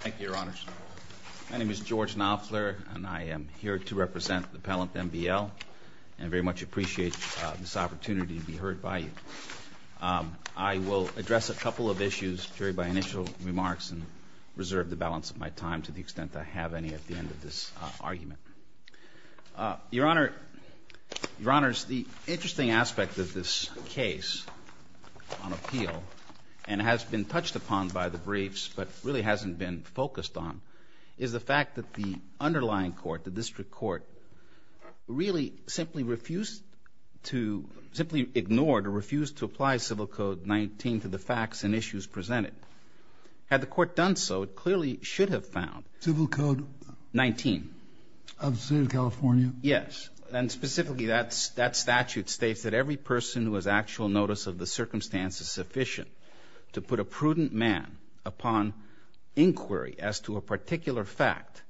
Thank you, Your Honors. My name is George Knopfler, and I am here to represent the Pellant M.B.L. and very much appreciate this opportunity to be heard by you. I will address a couple of issues, Jerry, by initial remarks and reserve the balance of my time to the extent I have any at the end of this argument. Your Honors, the interesting aspect of this case on appeal and has been touched upon by the briefs but really hasn't been focused on is the fact that the underlying court, the district court, really simply refused to, simply ignored or refused to apply Civil Code 19 to the facts and issues presented. Had the court done so, it clearly should have found 19. Civil Code of the State of California? Yes. And specifically that statute states that every person who has actual notice of the circumstance is sufficient to put a prudent man upon inquiry as to a particular fact,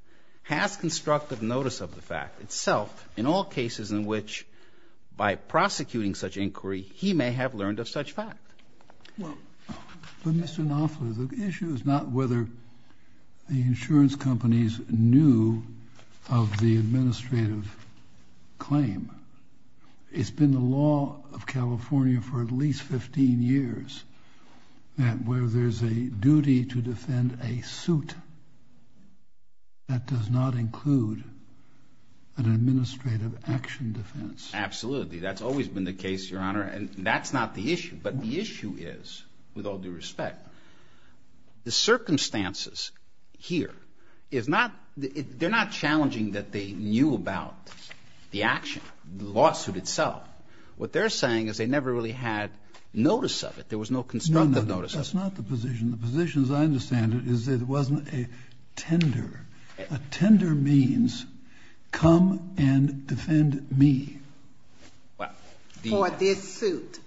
has constructive notice of the fact itself in all cases in which, by prosecuting such inquiry, he may have learned of such fact. Well, Mr. Knopfler, the issue is not whether the insurance companies knew of the administrative claim. It's been the law of California for at least 15 years that where there's a duty to defend a suit, that does not include an administrative action defense. Absolutely. That's always been the case, Your Honor, and that's not the issue. But the issue is, with all due respect, the circumstances here is not the – they're not challenging that they knew about the action, the lawsuit itself. What they're saying is they never really had notice of it. There was no constructive notice of it. No, that's not the position. The position, as I understand it, is it wasn't a tender. A tender means, come and defend me. Well, the – For this suit.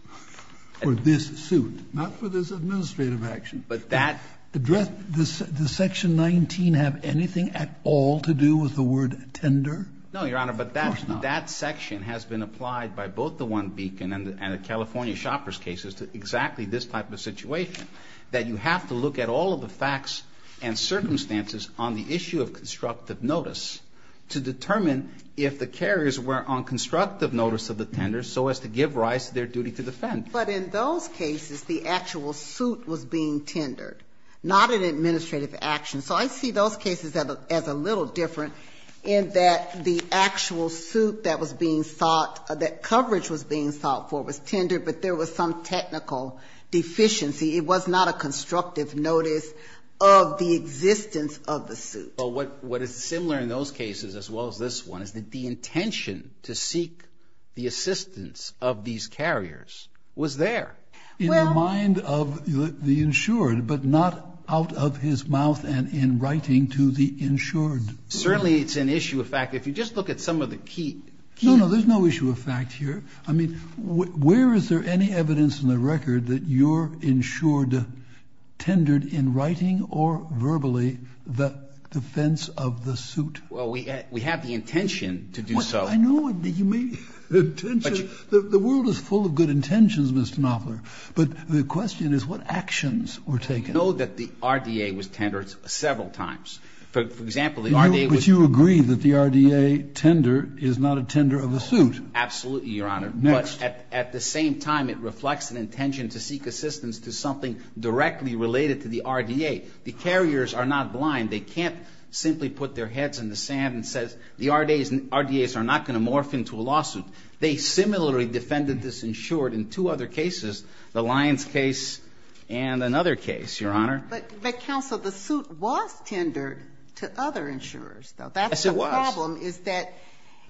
For this suit. Not for this administrative action. But that – Does section 19 have anything at all to do with the word tender? No, Your Honor, but that section has been applied by both the One Beacon and the California Shopper's cases to exactly this type of situation, that you have to look at all of the facts and circumstances on the issue of constructive notice to determine if the carriers were on constructive notice of the tender so as to give rise to their duty to defend. But in those cases, the actual suit was being tendered, not an administrative action. So I see those cases as a little different in that the actual suit that was being sought – that coverage was being sought for was tendered, but there was some technical deficiency. It was not a constructive notice of the existence of the suit. Well, what is similar in those cases as well as this one is that the intention to seek the assistance of these carriers was there. Well – In the mind of the insured, but not out of his mouth and in writing to the insured. Certainly it's an issue of fact. If you just look at some of the key – No, no, there's no issue of fact here. I mean, where is there any evidence in the record that your insured tendered in writing or verbally the defense of the suit? Well, we have the intention to do so. I know, but you may – the world is full of good intentions, Mr. Knopfler, but the question is what actions were taken? We know that the RDA was tendered several times. For example, the RDA was – But you agree that the RDA tender is not a tender of a suit. Absolutely, Your Honor. Next. At the same time, it reflects an intention to seek assistance to something directly related to the RDA. The carriers are not blind. They can't simply put their heads in the sand and say the RDAs are not going to morph into a lawsuit. They similarly defended this insured in two other cases, the Lyons case and another case, Your Honor. But, counsel, the suit was tendered to other insurers, though. That's the problem is that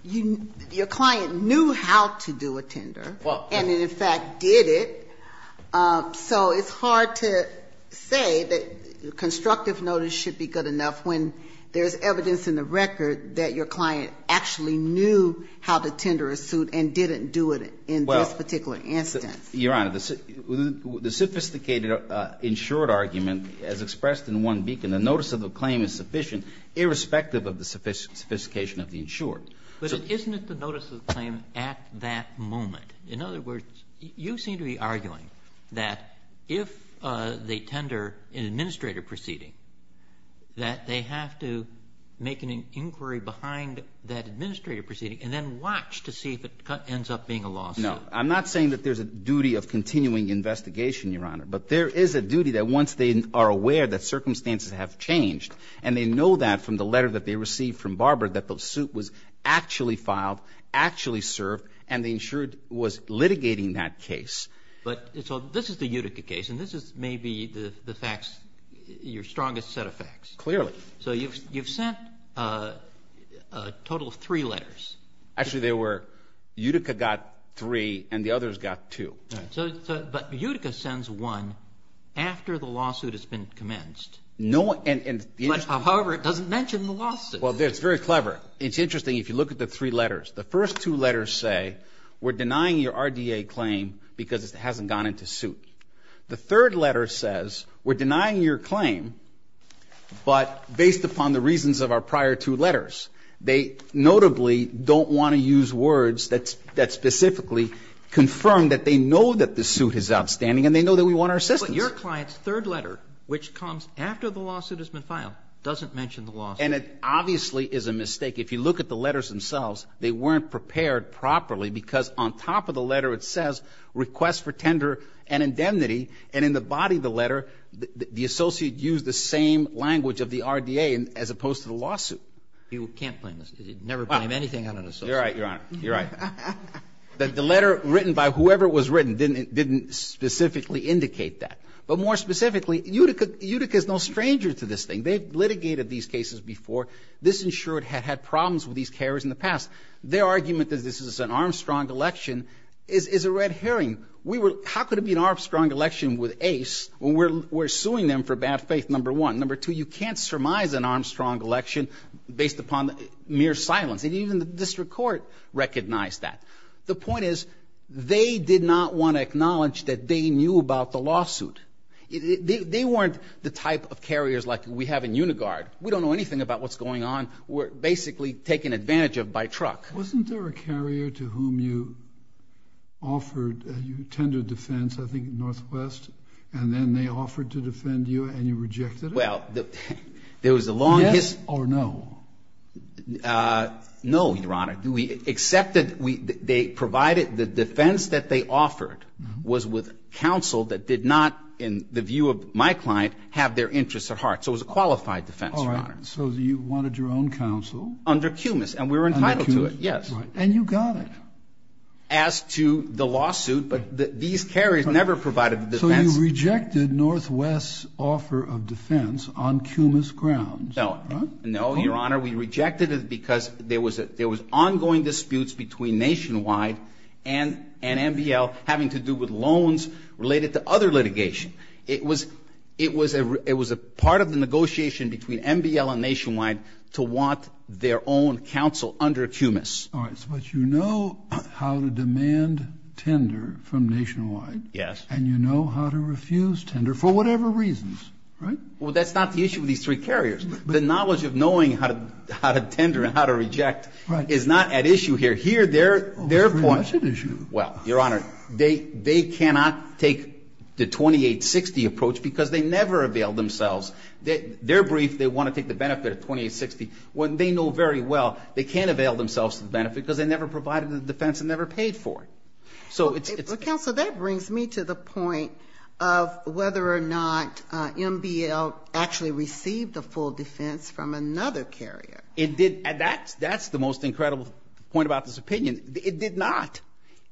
your client knew how to do a tender, and it, in fact, did it. So it's hard to say that constructive notice should be good enough when there's evidence in the record that your client actually knew how to tender a suit and didn't do it in this particular instance. Your Honor, the sophisticated insured argument as expressed in one beacon, the notice of the claim is sufficient, irrespective of the sophistication of the insured. So isn't it the notice of the claim at that moment? In other words, you seem to be arguing that if they tender an administrative proceeding, that they have to make an inquiry behind that administrative proceeding and then watch to see if it ends up being a lawsuit. No. I'm not saying that there's a duty of continuing investigation, Your Honor. But there is a duty that once they are aware that circumstances have changed and they know that from the letter that they received from Barber that the suit was actually filed, actually served, and the insured was litigating that case. But so this is the Utica case, and this is maybe the facts, your strongest set of facts. Clearly. So you've sent a total of three letters. Actually, there were Utica got three and the others got two. So, but Utica sends one after the lawsuit has been commenced. No, and however, it doesn't mention the lawsuit. Well, it's very clever. It's interesting. If you look at the three letters, the first two letters say we're denying your RDA claim because it hasn't gone into suit. The third letter says we're denying your claim, but based upon the reasons of our prior two letters, they notably don't want to use words that specifically confirm that they know that the suit is outstanding and they know that we want our assistance. But your client's third letter, which comes after the lawsuit has been filed, doesn't mention the lawsuit. And it obviously is a mistake. If you look at the letters themselves, they weren't prepared properly because on top of the letter, it says request for tender and indemnity, and in the body of the letter, the associate used the same language of the RDA as opposed to the lawsuit. You can't blame this. You'd never blame anything on an associate. You're right, Your Honor. You're right. The letter written by whoever it was written didn't specifically indicate that. But more specifically, Utica is no stranger to this thing. They've litigated these cases before. This insured had problems with these carriers in the past. Their argument that this is an Armstrong election is a red herring. How could it be an Armstrong election with Ace when we're suing them for bad faith, number one? Number two, you can't surmise an Armstrong election based upon mere silence. And even the district court recognized that. The point is, they did not want to acknowledge that they knew about the lawsuit. They weren't the type of carriers like we have in Unigard. We don't know anything about what's going on. We're basically taken advantage of by truck. Wasn't there a carrier to whom you offered, you tendered defense, I think, in Northwest, and then they offered to defend you and you rejected it? Well, there was a long history. Yes or no? No, Your Honor. We accepted, they provided the defense that they offered was with counsel that did not, in the view of my client, have their interests at heart. So it was a qualified defense, Your Honor. So you wanted your own counsel? Under Cumas, and we were entitled to it, yes. And you got it? As to the lawsuit, but these carriers never provided the defense. So you rejected Northwest's offer of defense on Cumas grounds? No. No, Your Honor, we rejected it because there was ongoing disputes between Nationwide and NBL having to do with loans related to other litigation. It was a part of the negotiation between NBL and Nationwide to want their own counsel under Cumas. All right, but you know how to demand tender from Nationwide. Yes. And you know how to refuse tender for whatever reasons, right? Well, that's not the issue with these three carriers. The knowledge of knowing how to tender and how to reject is not at issue here. Here, their point is, well, Your Honor, they cannot take the 2860 approach because they never availed themselves. They're brief. They want to take the benefit of 2860. When they know very well they can't avail themselves of the benefit because they never provided the defense and never paid for it. So it's- Counsel, that brings me to the point of whether or not NBL actually received the full defense from another carrier. It did, and that's the most incredible point about this opinion. It did not.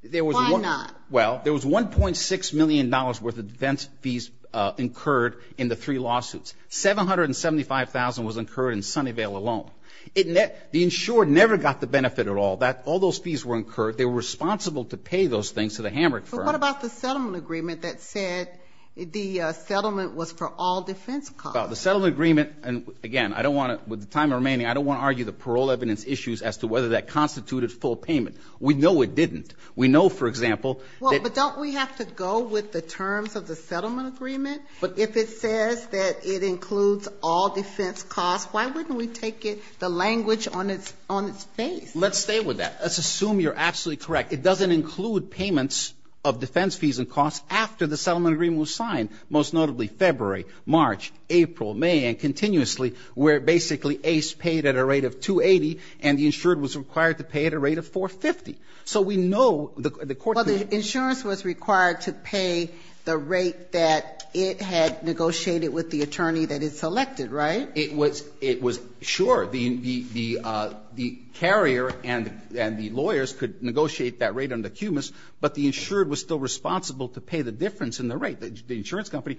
There was- Why not? Well, there was $1.6 million worth of defense fees incurred in the three lawsuits. $775,000 was incurred in Sunnyvale alone. The insured never got the benefit at all. All those fees were incurred. They were responsible to pay those things to the Hamrick firm. But what about the settlement agreement that said the settlement was for all defense costs? The settlement agreement, and again, I don't want to- With the time remaining, I don't want to argue the parole evidence issues as to whether that constituted full payment. We know it didn't. We know, for example- Well, but don't we have to go with the terms of the settlement agreement? But if it says that it includes all defense costs, why wouldn't we take it- the language on its face? Let's stay with that. Let's assume you're absolutely correct. It doesn't include payments of defense fees and costs after the settlement agreement was signed, most notably February, March, April, May, and continuously, where basically Ace paid at a rate of $280, and the insured was required to pay at a rate of $450. So we know the court- Well, the insurance was required to pay the rate that it had negotiated with the attorney that it selected, right? It was sure. The carrier and the lawyers could negotiate that rate under Cumas, but the insured was still responsible to pay the difference in the rate. The insurance company,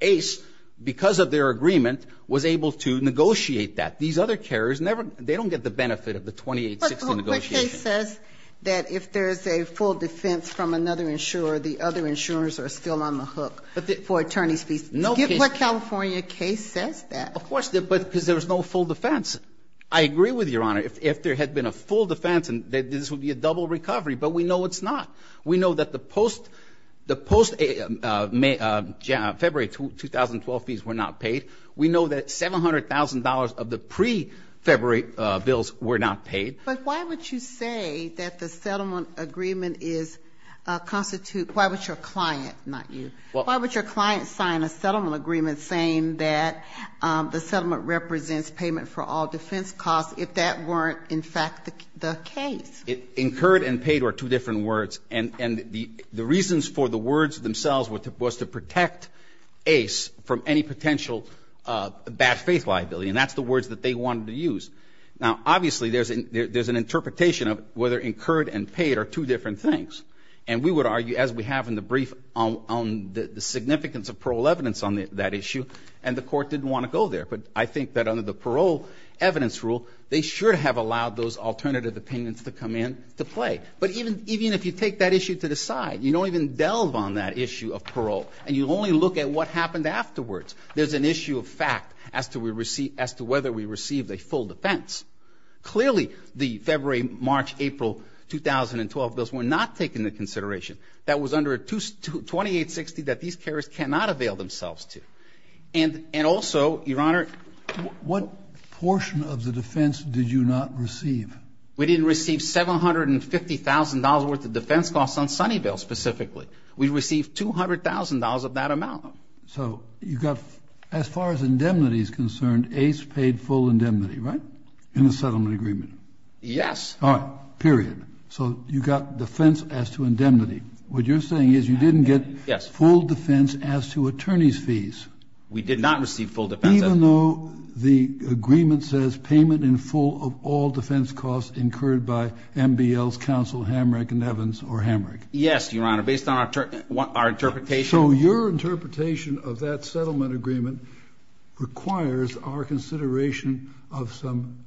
Ace, because of their agreement, was able to negotiate that. These other carriers never- they don't get the benefit of the $2,860 negotiation. But the case says that if there's a full defense from another insurer, the other insurers are still on the hook for attorney's fees. No case- What California case says that? Of course, because there was no full defense. I agree with Your Honor. If there had been a full defense, this would be a double recovery, but we know it's not. We know that the post- the post-February 2012 fees were not paid. We know that $700,000 of the pre-February bills were not paid. But why would you say that the settlement agreement is a constitute- why would your client, not you- Why would your client sign a settlement agreement saying that the settlement represents payment for all defense costs if that weren't, in fact, the case? Incurred and paid are two different words. And the reasons for the words themselves was to protect Ace from any potential bad faith liability. And that's the words that they wanted to use. Now, obviously, there's an interpretation of whether incurred and paid are two different things. And we would argue, as we have in the brief, on the significance of parole evidence on that issue. And the court didn't want to go there. But I think that under the parole evidence rule, they should have allowed those alternative opinions to come in to play. But even if you take that issue to the side, you don't even delve on that issue of parole. And you only look at what happened afterwards. There's an issue of fact as to whether we received a full defense. Clearly, the February, March, April 2012 bills were not taken into consideration. That was under 2860 that these carriers cannot avail themselves to. And also, Your Honor, what portion of the defense did you not receive? We didn't receive $750,000 worth of defense costs on Sunnyvale, specifically. We received $200,000 of that amount. So you got, as far as indemnity is concerned, Ace paid full indemnity, right? In the settlement agreement? Yes. All right, period. So you got defense as to indemnity. What you're saying is you didn't get full defense as to attorney's fees. We did not receive full defense. Even though the agreement says payment in full of all defense costs incurred by MBL's counsel, Hamrick and Evans, or Hamrick. Yes, Your Honor, based on our interpretation. So your interpretation of that settlement agreement requires our consideration of some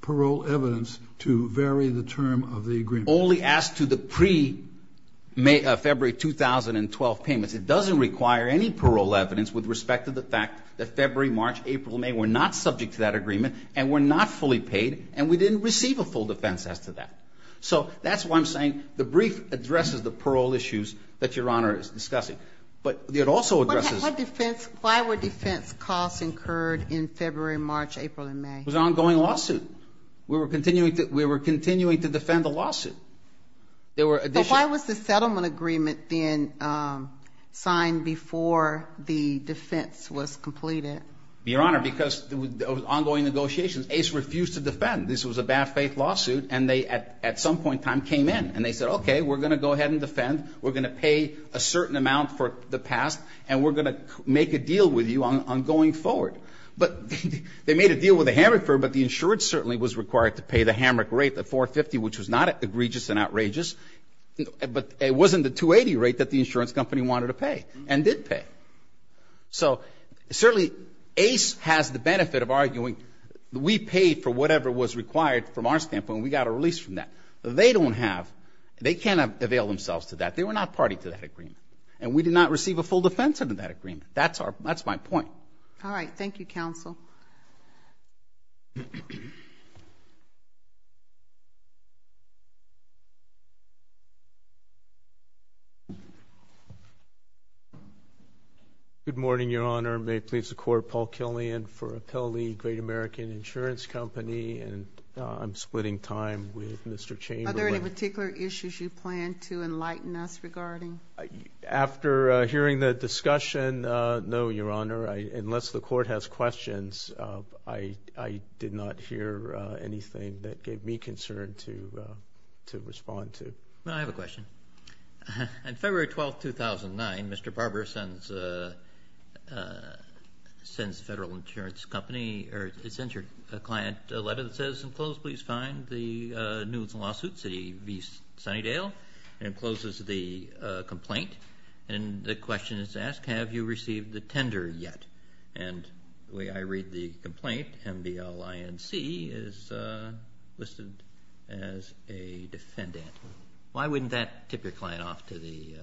parole evidence to vary the term of the agreement. Only as to the pre-February 2012 payments. It doesn't require any parole evidence with respect to the fact that February, March, April, May were not subject to that agreement and were not fully paid. And we didn't receive a full defense as to that. So that's why I'm saying the brief addresses the parole issues that Your Honor is discussing. But it also addresses- Why were defense costs incurred in February, March, April, and May? It was an ongoing lawsuit. We were continuing to defend the lawsuit. There were additional- But why was the settlement agreement then signed before the defense was completed? Your Honor, because it was ongoing negotiations. Ace refused to defend. This was a bad faith lawsuit. And they, at some point in time, came in. And they said, okay, we're going to go ahead and defend. We're going to pay a certain amount for the past. And we're going to make a deal with you on going forward. But they made a deal with the Hammock firm, but the insurance certainly was required to pay the Hammock rate, the 450, which was not egregious and outrageous. But it wasn't the 280 rate that the insurance company wanted to pay and did pay. So, certainly, Ace has the benefit of arguing we paid for whatever was required from our standpoint. We got a release from that. They don't have. They can't avail themselves to that. They were not party to that agreement. And we did not receive a full defense under that agreement. That's our- that's my point. All right. Thank you, Counsel. Good morning, Your Honor. May it please the Court, Paul Killian for Appellee Great American Insurance Company. And I'm splitting time with Mr. Chamberlain. Are there any particular issues you plan to enlighten us regarding? After hearing the discussion, no, Your Honor. Unless the Court has questions, I did not hear anything that gave me concern to respond to. Well, I have a question. On February 12th, 2009, Mr. Barber sends Federal Insurance Company, or he sends your client a letter that says, in close, please find the nudes and lawsuits at E.V. Sunnydale, and it closes the complaint. And the question is asked, have you received the tender yet? And the way I read the complaint, M-B-L-I-N-C, is listed as a defendant. Why wouldn't that tip your client off to the-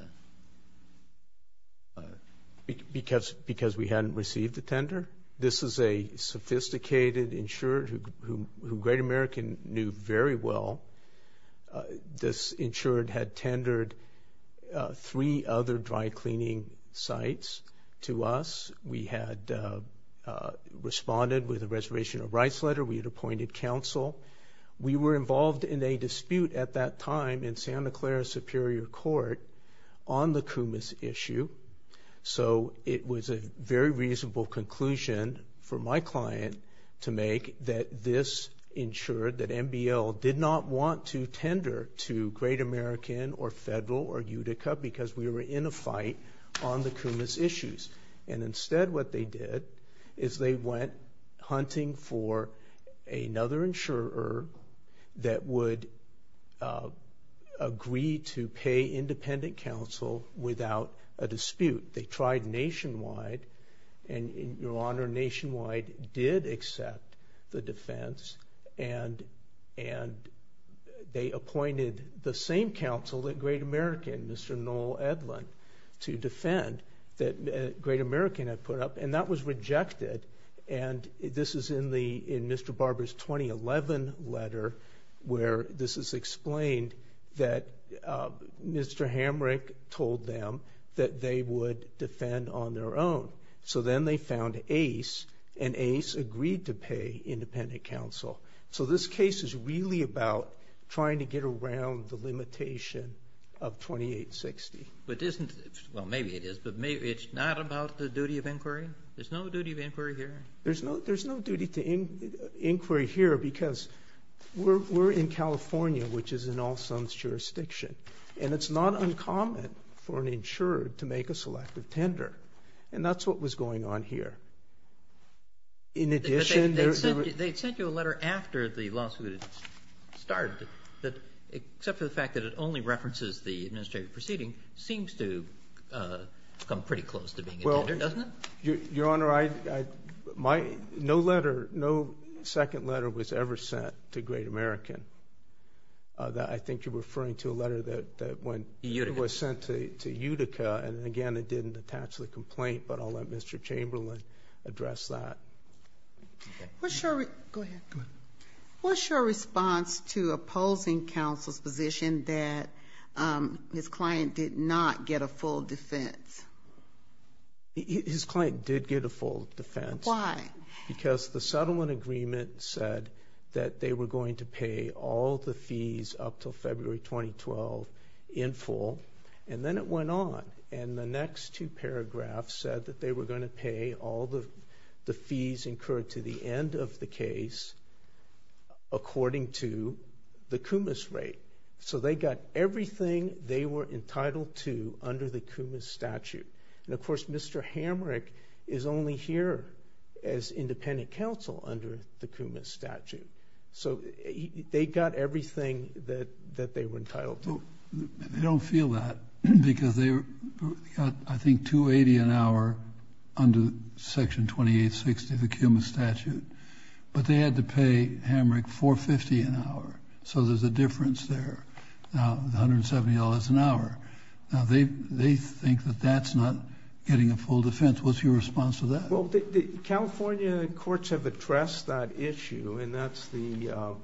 Because we hadn't received the tender. This is a sophisticated insurer who Great American knew very well. This insurer had tendered three other dry cleaning sites to us. We had responded with a Reservation of Rights letter. We had appointed counsel. We were involved in a dispute at that time in Santa Clara Superior Court on the Kumis issue. So, it was a very reasonable conclusion for my client to make that this insured, that M-B-L did not want to tender to Great American, or Federal, or Utica, because we were in a fight on the Kumis issues. And instead, what they did is they went hunting for another insurer that would agree to pay independent counsel without a dispute. They tried nationwide. And, Your Honor, nationwide did accept the defense. And they appointed the same counsel that Great American, Mr. Noel Edlin, to defend that Great American had put up. And that was rejected. And this is in Mr. Barber's 2011 letter where this is explained that Mr. Hamrick told them that they would defend on their own. So, then they found Ace, and Ace agreed to pay independent counsel. So, this case is really about trying to get around the limitation of 2860. But isn't, well, maybe it is, but maybe it's not about the duty of inquiry. There's no duty of inquiry here. There's no duty to inquiry here because we're in California, which is an all-sums jurisdiction. And it's not uncommon for an insurer to make a selective tender. And that's what was going on here. In addition, there was. They sent you a letter after the lawsuit started that, except for the fact that it only references the administrative proceeding, seems to come pretty close to being a tender, doesn't it? Your Honor, no letter, no second letter was ever sent to Great American. I think you're referring to a letter that was sent to Utica. And again, it didn't attach the complaint. But I'll let Mr. Chamberlain address that. What's your response to opposing counsel's position that his client did not get a full defense? His client did get a full defense. Why? Because the settlement agreement said that they were going to pay all the fees up till February 2012 in full. And then it went on. And the next two paragraphs said that they were going to pay all the fees incurred to the end of the case according to the CUMAS rate. So they got everything they were entitled to under the CUMAS statute. And of course, Mr. Hamrick is only here as independent counsel under the CUMAS statute. So they got everything that they were entitled to. They don't feel that because they got, I think, $280 an hour under Section 2860 of the CUMAS statute. But they had to pay Hamrick $450 an hour. So there's a difference there, $170 an hour. Now, they think that that's not getting a full defense. What's your response to that? Well, the California courts have addressed that issue. And that's the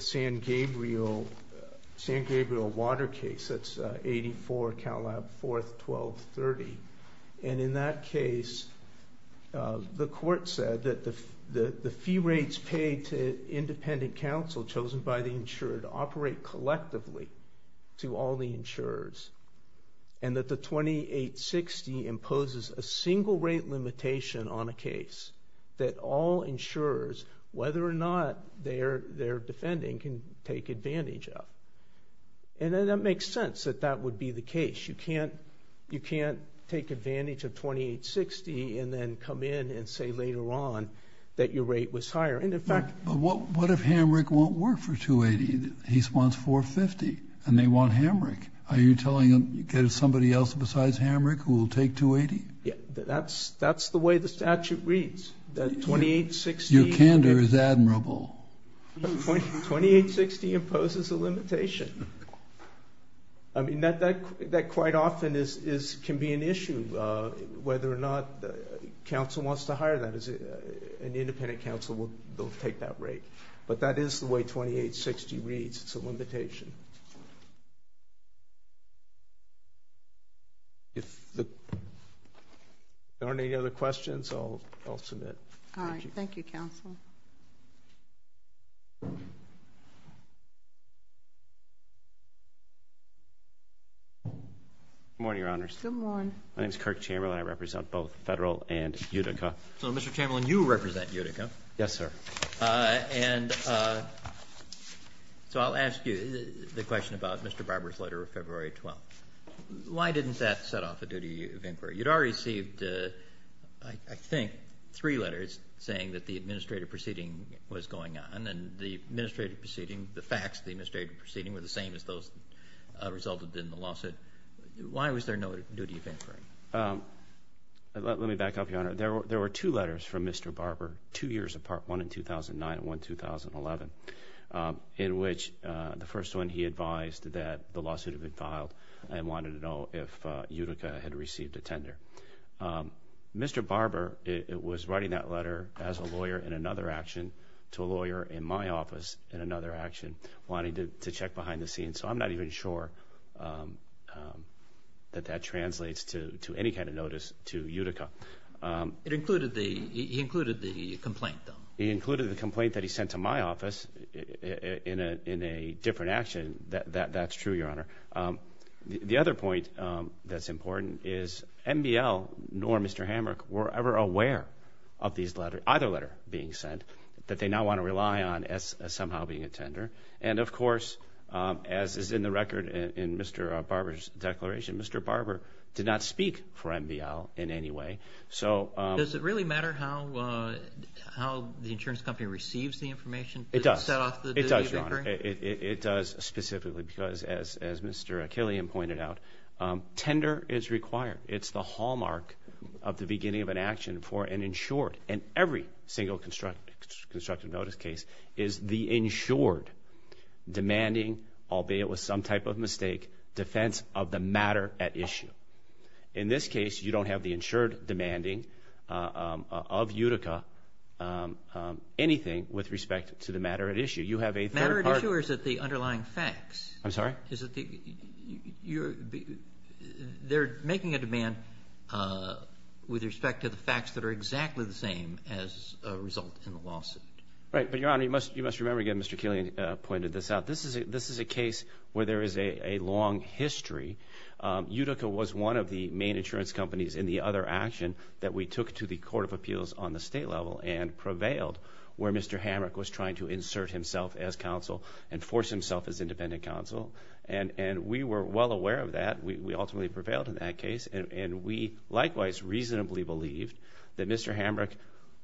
San Gabriel Water case. That's 84 Count Lab 4th, 1230. And in that case, the court said that the fee rates paid to independent counsel chosen by the insured operate collectively to all the insurers. And that the 2860 imposes a single rate limitation on a case that all insurers, whether or not they're defending, can take advantage of. And then that makes sense that that would be the case. You can't take advantage of 2860 and then come in and say later on that your rate was higher. But what if Hamrick won't work for $280? He wants $450, and they want Hamrick. Are you telling them, get somebody else besides Hamrick who will take $280? Yeah, that's the way the statute reads, that 2860. Your candor is admirable. 2860 imposes a limitation. I mean, that quite often can be an issue, whether or not counsel wants to hire that. An independent counsel will take that rate. But that is the way 2860 reads. It's a limitation. If there aren't any other questions, I'll submit. All right. Thank you, counsel. Good morning, Your Honors. Good morning. My name's Kirk Chamberlain. I represent both federal and Utica. So Mr. Chamberlain, you represent Utica. Yes, sir. And so I'll ask you the question about Mr. Barber's letter of February 12th. Why didn't that set off a duty of inquiry? You'd already received, I think, three letters saying that the administrative proceeding was going on. And the administrative proceeding, the facts of the administrative proceeding were the same as those resulted in the lawsuit. Why was there no duty of inquiry? Let me back up, Your Honor. There were two letters from Mr. Barber, two years apart, one in 2009 and one in 2011, in which the first one he advised that the lawsuit had been filed and wanted to know if Utica had received a tender. Mr. Barber was writing that letter as a lawyer in another action to a lawyer in my office in another action, wanting to check behind the scenes. So I'm not even sure that that translates to any kind of notice to Utica. It included the complaint, though. It included the complaint that he sent to my office in a different action. That's true, Your Honor. The other point that's important is MBL nor Mr. Hamrick were ever aware of either letter being sent that they now want to rely on as somehow being a tender. And of course, as is in the record in Mr. Barber's declaration, Mr. Barber did not speak for MBL in any way. So... Does it really matter how the insurance company receives the information? It does. It does, Your Honor. It does specifically because as Mr. Achillean pointed out, tender is required. It's the hallmark of the beginning of an action for an insured. And every single constructive notice case is the insured demanding, albeit with some type of mistake, defense of the matter at issue. In this case, you don't have the insured demanding of Utica, anything with respect to the matter at issue. You have a third part... Matter at issue or is it the underlying facts? I'm sorry? Is it the... They're making a demand with respect to the facts that are exactly the same as a result in the lawsuit. Right, but Your Honor, you must remember again, Mr. Achillean pointed this out. This is a case where there is a long history. Utica was one of the main insurance companies in the other action that we took to the Court of Appeals on the state level and prevailed where Mr. Hamrick was trying to insert himself as counsel and force himself as independent counsel. And we were well aware of that. We ultimately prevailed in that case. And we likewise reasonably believed that Mr. Hamrick,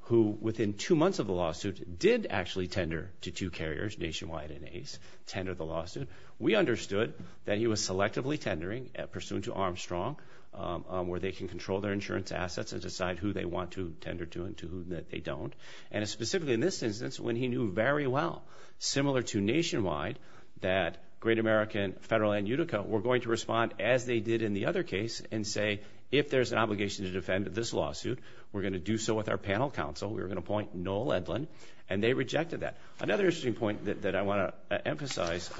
who within two months of the lawsuit, did actually tender to two carriers, Nationwide and Ace, tender the lawsuit. We understood that he was selectively tendering pursuant to Armstrong, where they can control their insurance assets and decide who they want to tender to and to whom that they don't. And specifically in this instance, when he knew very well, similar to Nationwide, that Great American, Federal, and Utica were going to respond as they did in the other case and say, if there's an obligation to defend this lawsuit, we're gonna do so with our panel counsel. We're gonna appoint Noel Edlin. And they rejected that. Another interesting point that I want to emphasize,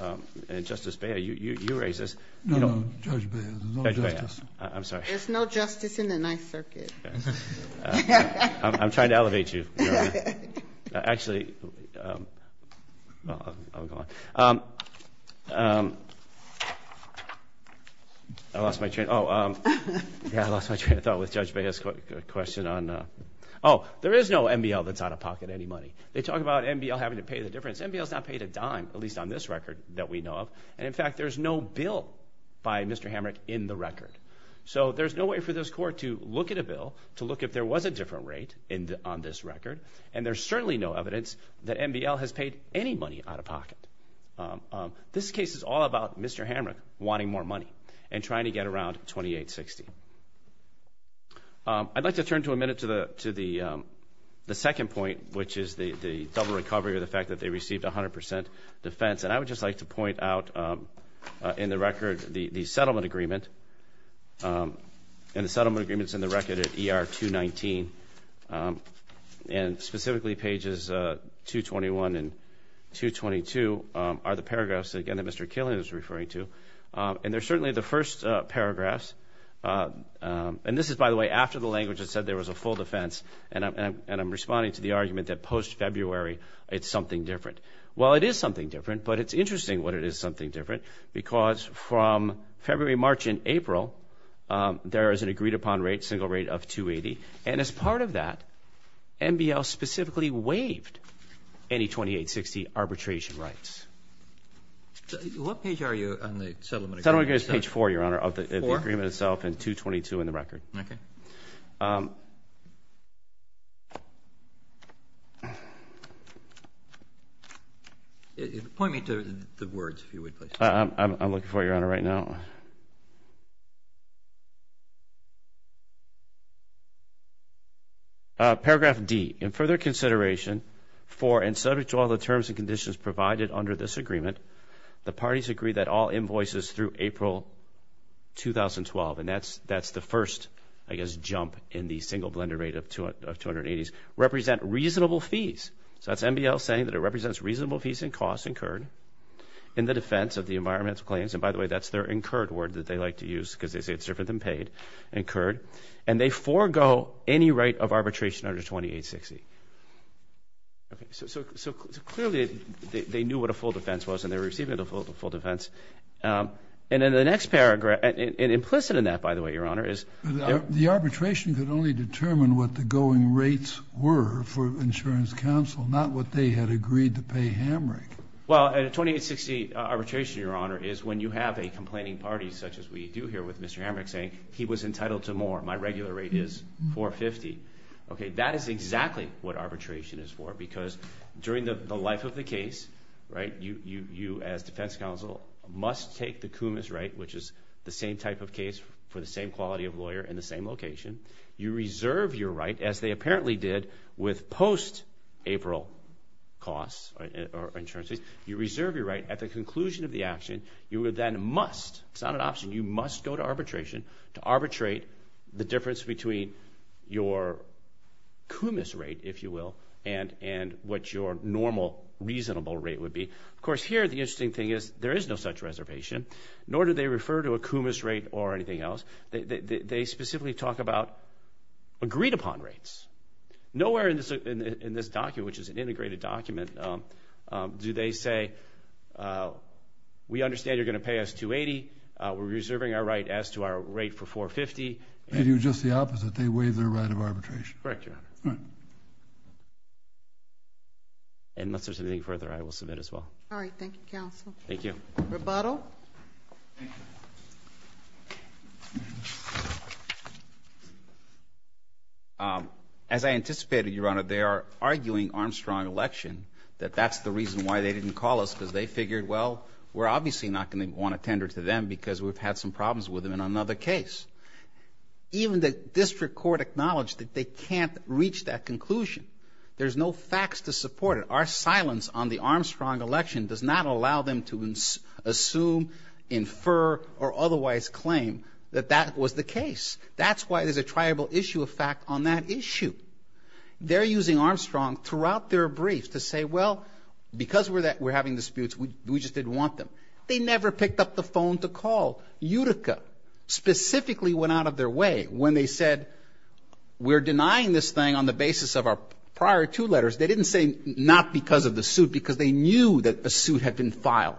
and Justice Beyer, you raised this. No, Judge Beyer, there's no justice. I'm sorry. There's no justice in the Ninth Circuit. Yes. I'm trying to elevate you, Your Honor. Actually, I'll go on. I lost my train of thought with Judge Beyer's question on, oh, there is no MBL that's out of pocket any money. They talk about MBL having to pay the difference. MBL's not paid a dime, at least on this record that we know of. And in fact, there's no bill by Mr. Hamrick in the record. So there's no way for this court to look at a bill, to look if there was a different rate on this record. And there's certainly no evidence that MBL has paid any money out of pocket. This case is all about Mr. Hamrick wanting more money and trying to get around 2860. I'd like to turn to a minute to the second point, which is the double recovery, or the fact that they received 100% defense. And I would just like to point out in the record the settlement agreement. And the settlement agreement's in the record at ER 219. And specifically, pages 221 and 222 are the paragraphs, again, that Mr. Killian was referring to. And they're certainly the first paragraphs. And this is, by the way, after the language that said there was a full defense. And I'm responding to the argument that post-February, it's something different. Well, it is something different, but it's interesting what it is something different, because from February, March, and April, there is an agreed-upon rate, single rate of 280. And as part of that, MBL specifically waived any 2860 arbitration rights. What page are you on the settlement agreement? Settlement agreement's page four, Your Honor, of the agreement itself, and 222 in the record. Okay. Point me to the words, if you would, please. I'm looking for it, Your Honor, right now. Paragraph D, in further consideration for, and subject to all the terms and conditions provided under this agreement, the parties agree that all invoices through April 2012, and that's the first, I guess, jump in the single blended rate of 280s, represent reasonable fees. So that's MBL saying that it represents reasonable fees and costs incurred in the defense of the environmental claims. And by the way, that's their incurred word that they like to use, because they say it's different than paid, incurred. And they forego any right of arbitration under 2860. Okay, so clearly, they knew what a full defense was, and they were receiving a full defense. And in the next paragraph, and implicit in that, by the way, Your Honor, is. The arbitration could only determine what the going rates were for insurance counsel, not what they had agreed to pay Hamrick. Well, a 2860 arbitration, Your Honor, is when you have a complaining party, such as we do here with Mr. Hamrick, saying he was entitled to more. My regular rate is 450. Okay, that is exactly what arbitration is for, because during the life of the case, right, you, as defense counsel, must take the cumus right, which is the same type of case for the same quality of lawyer in the same location. You reserve your right, as they apparently did with post-April costs, or insurance fees. You reserve your right at the conclusion of the action. You would then must, it's not an option, you must go to arbitration to arbitrate the difference between your cumus rate, if you will, and what your normal, reasonable rate would be. Of course, here, the interesting thing is, there is no such reservation, nor do they refer to a cumus rate or anything else. They specifically talk about agreed-upon rates. Nowhere in this document, which is an integrated document, do they say, we understand you're gonna pay us 280. We're reserving our right as to our rate for 450. They do just the opposite. They waive their right of arbitration. Correct, Your Honor. All right. And unless there's anything further, I will submit as well. All right, thank you, counsel. Thank you. Rebuttal. As I anticipated, Your Honor, they are arguing Armstrong election, that that's the reason why they didn't call us, because they figured, well, we're obviously not gonna want to tender to them, because we've had some problems with them in another case. Even the district court acknowledged that they can't reach that conclusion. There's no facts to support it. Our silence on the Armstrong election does not allow them to assume, infer, or otherwise claim that that was the case. That's why there's a triable issue of fact on that issue. They're using Armstrong throughout their brief to say, well, because we're having disputes, we just didn't want them. They never picked up the phone to call. Utica specifically went out of their way when they said, we're denying this thing on the basis of our prior two letters. They didn't say not because of the suit, because they knew that a suit had been filed.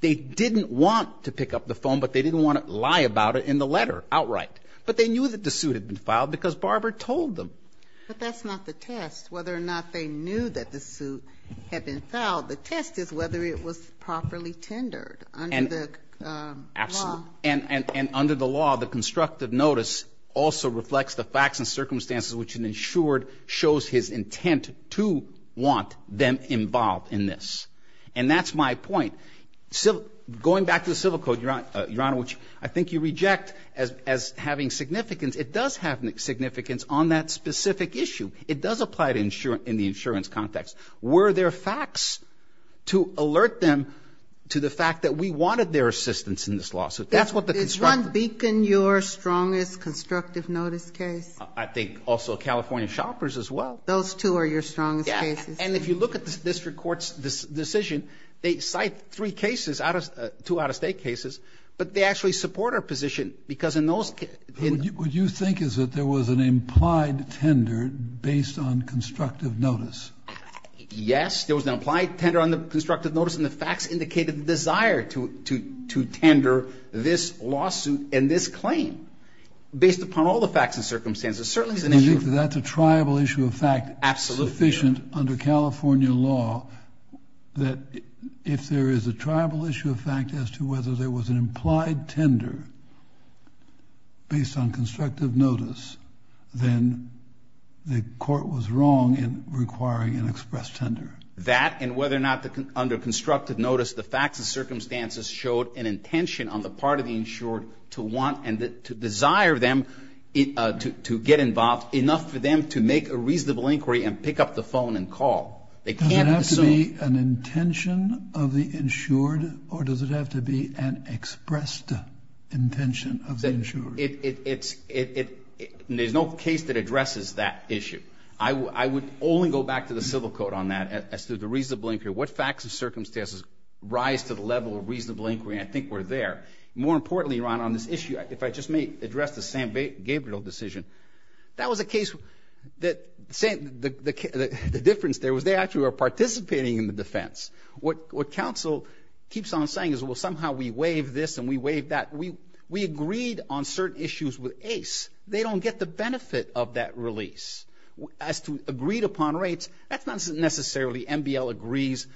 They didn't want to pick up the phone, but they didn't want to lie about it in the letter outright. But they knew that the suit had been filed, But that's not the test, whether or not they knew that the suit had been filed. The test is whether it was properly tendered under the law. Absolutely. And under the law, the constructive notice also reflects the facts and circumstances which an insured shows his intent to want them involved in this. And that's my point. Going back to the Civil Code, Your Honor, I think you reject as having significance. It does have significance on that specific issue. It does apply in the insurance context. Were there facts to alert them to the fact that we wanted their assistance in this lawsuit? That's what the construct- Did Ron Beacon, your strongest constructive notice case? I think also California shoppers as well. Those two are your strongest cases. And if you look at this district court's decision, they cite three cases, two out of state cases, but they actually support our position because in those cases- What you think is that there was an implied tender based on constructive notice? Yes, there was an implied tender on the constructive notice and the facts indicated the desire to tender this lawsuit and this claim based upon all the facts and circumstances. Certainly it's an issue- I think that that's a triable issue of fact- Absolutely. Sufficient under California law that if there is a triable issue of fact as to whether there was an implied tender based on constructive notice, then the court was wrong in requiring an express tender. That and whether or not under constructive notice, the facts and circumstances showed an intention on the part of the insured to want and to desire them to get involved enough for them to make a reasonable inquiry and pick up the phone and call. They can't assume- Does it have to be an intention of the insured or does it have to be an expressed intention of the insured? It's, there's no case that addresses that issue. I would only go back to the civil code on that as to the reasonable inquiry. What facts and circumstances rise to the level of reasonable inquiry? I think we're there. More importantly, Ron, on this issue, if I just may address the Sam Gabriel decision. That was a case that the difference there was they actually were participating in the defense. What counsel keeps on saying is, well, somehow we waive this and we waive that. We agreed on certain issues with ACE. They don't get the benefit of that release. As to agreed upon rates, that's not necessarily MBL agrees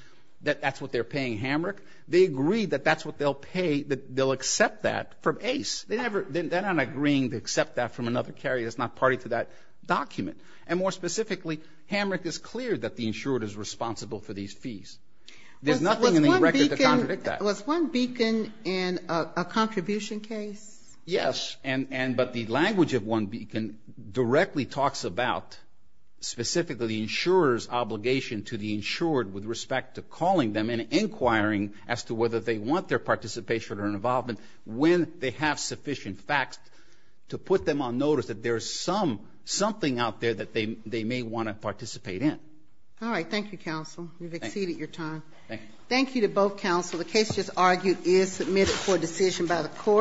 that that's what they're paying Hamrick. They agree that that's what they'll pay, that they'll accept that from ACE. They never, they're not agreeing to accept that from another carrier that's not party to that document. And more specifically, Hamrick is clear that the insured is responsible for these fees. There's nothing in the record to contradict that. Was one beacon in a contribution case? Yes, but the language of one beacon directly talks about specifically the insurer's obligation to the insured with respect to calling them and inquiring as to whether they want their participation or involvement when they have sufficient facts to put them on notice that there's something out there that they may want to participate in. All right, thank you, counsel. You've exceeded your time. Thank you to both counsel. The case just argued is submitted for decision by the court.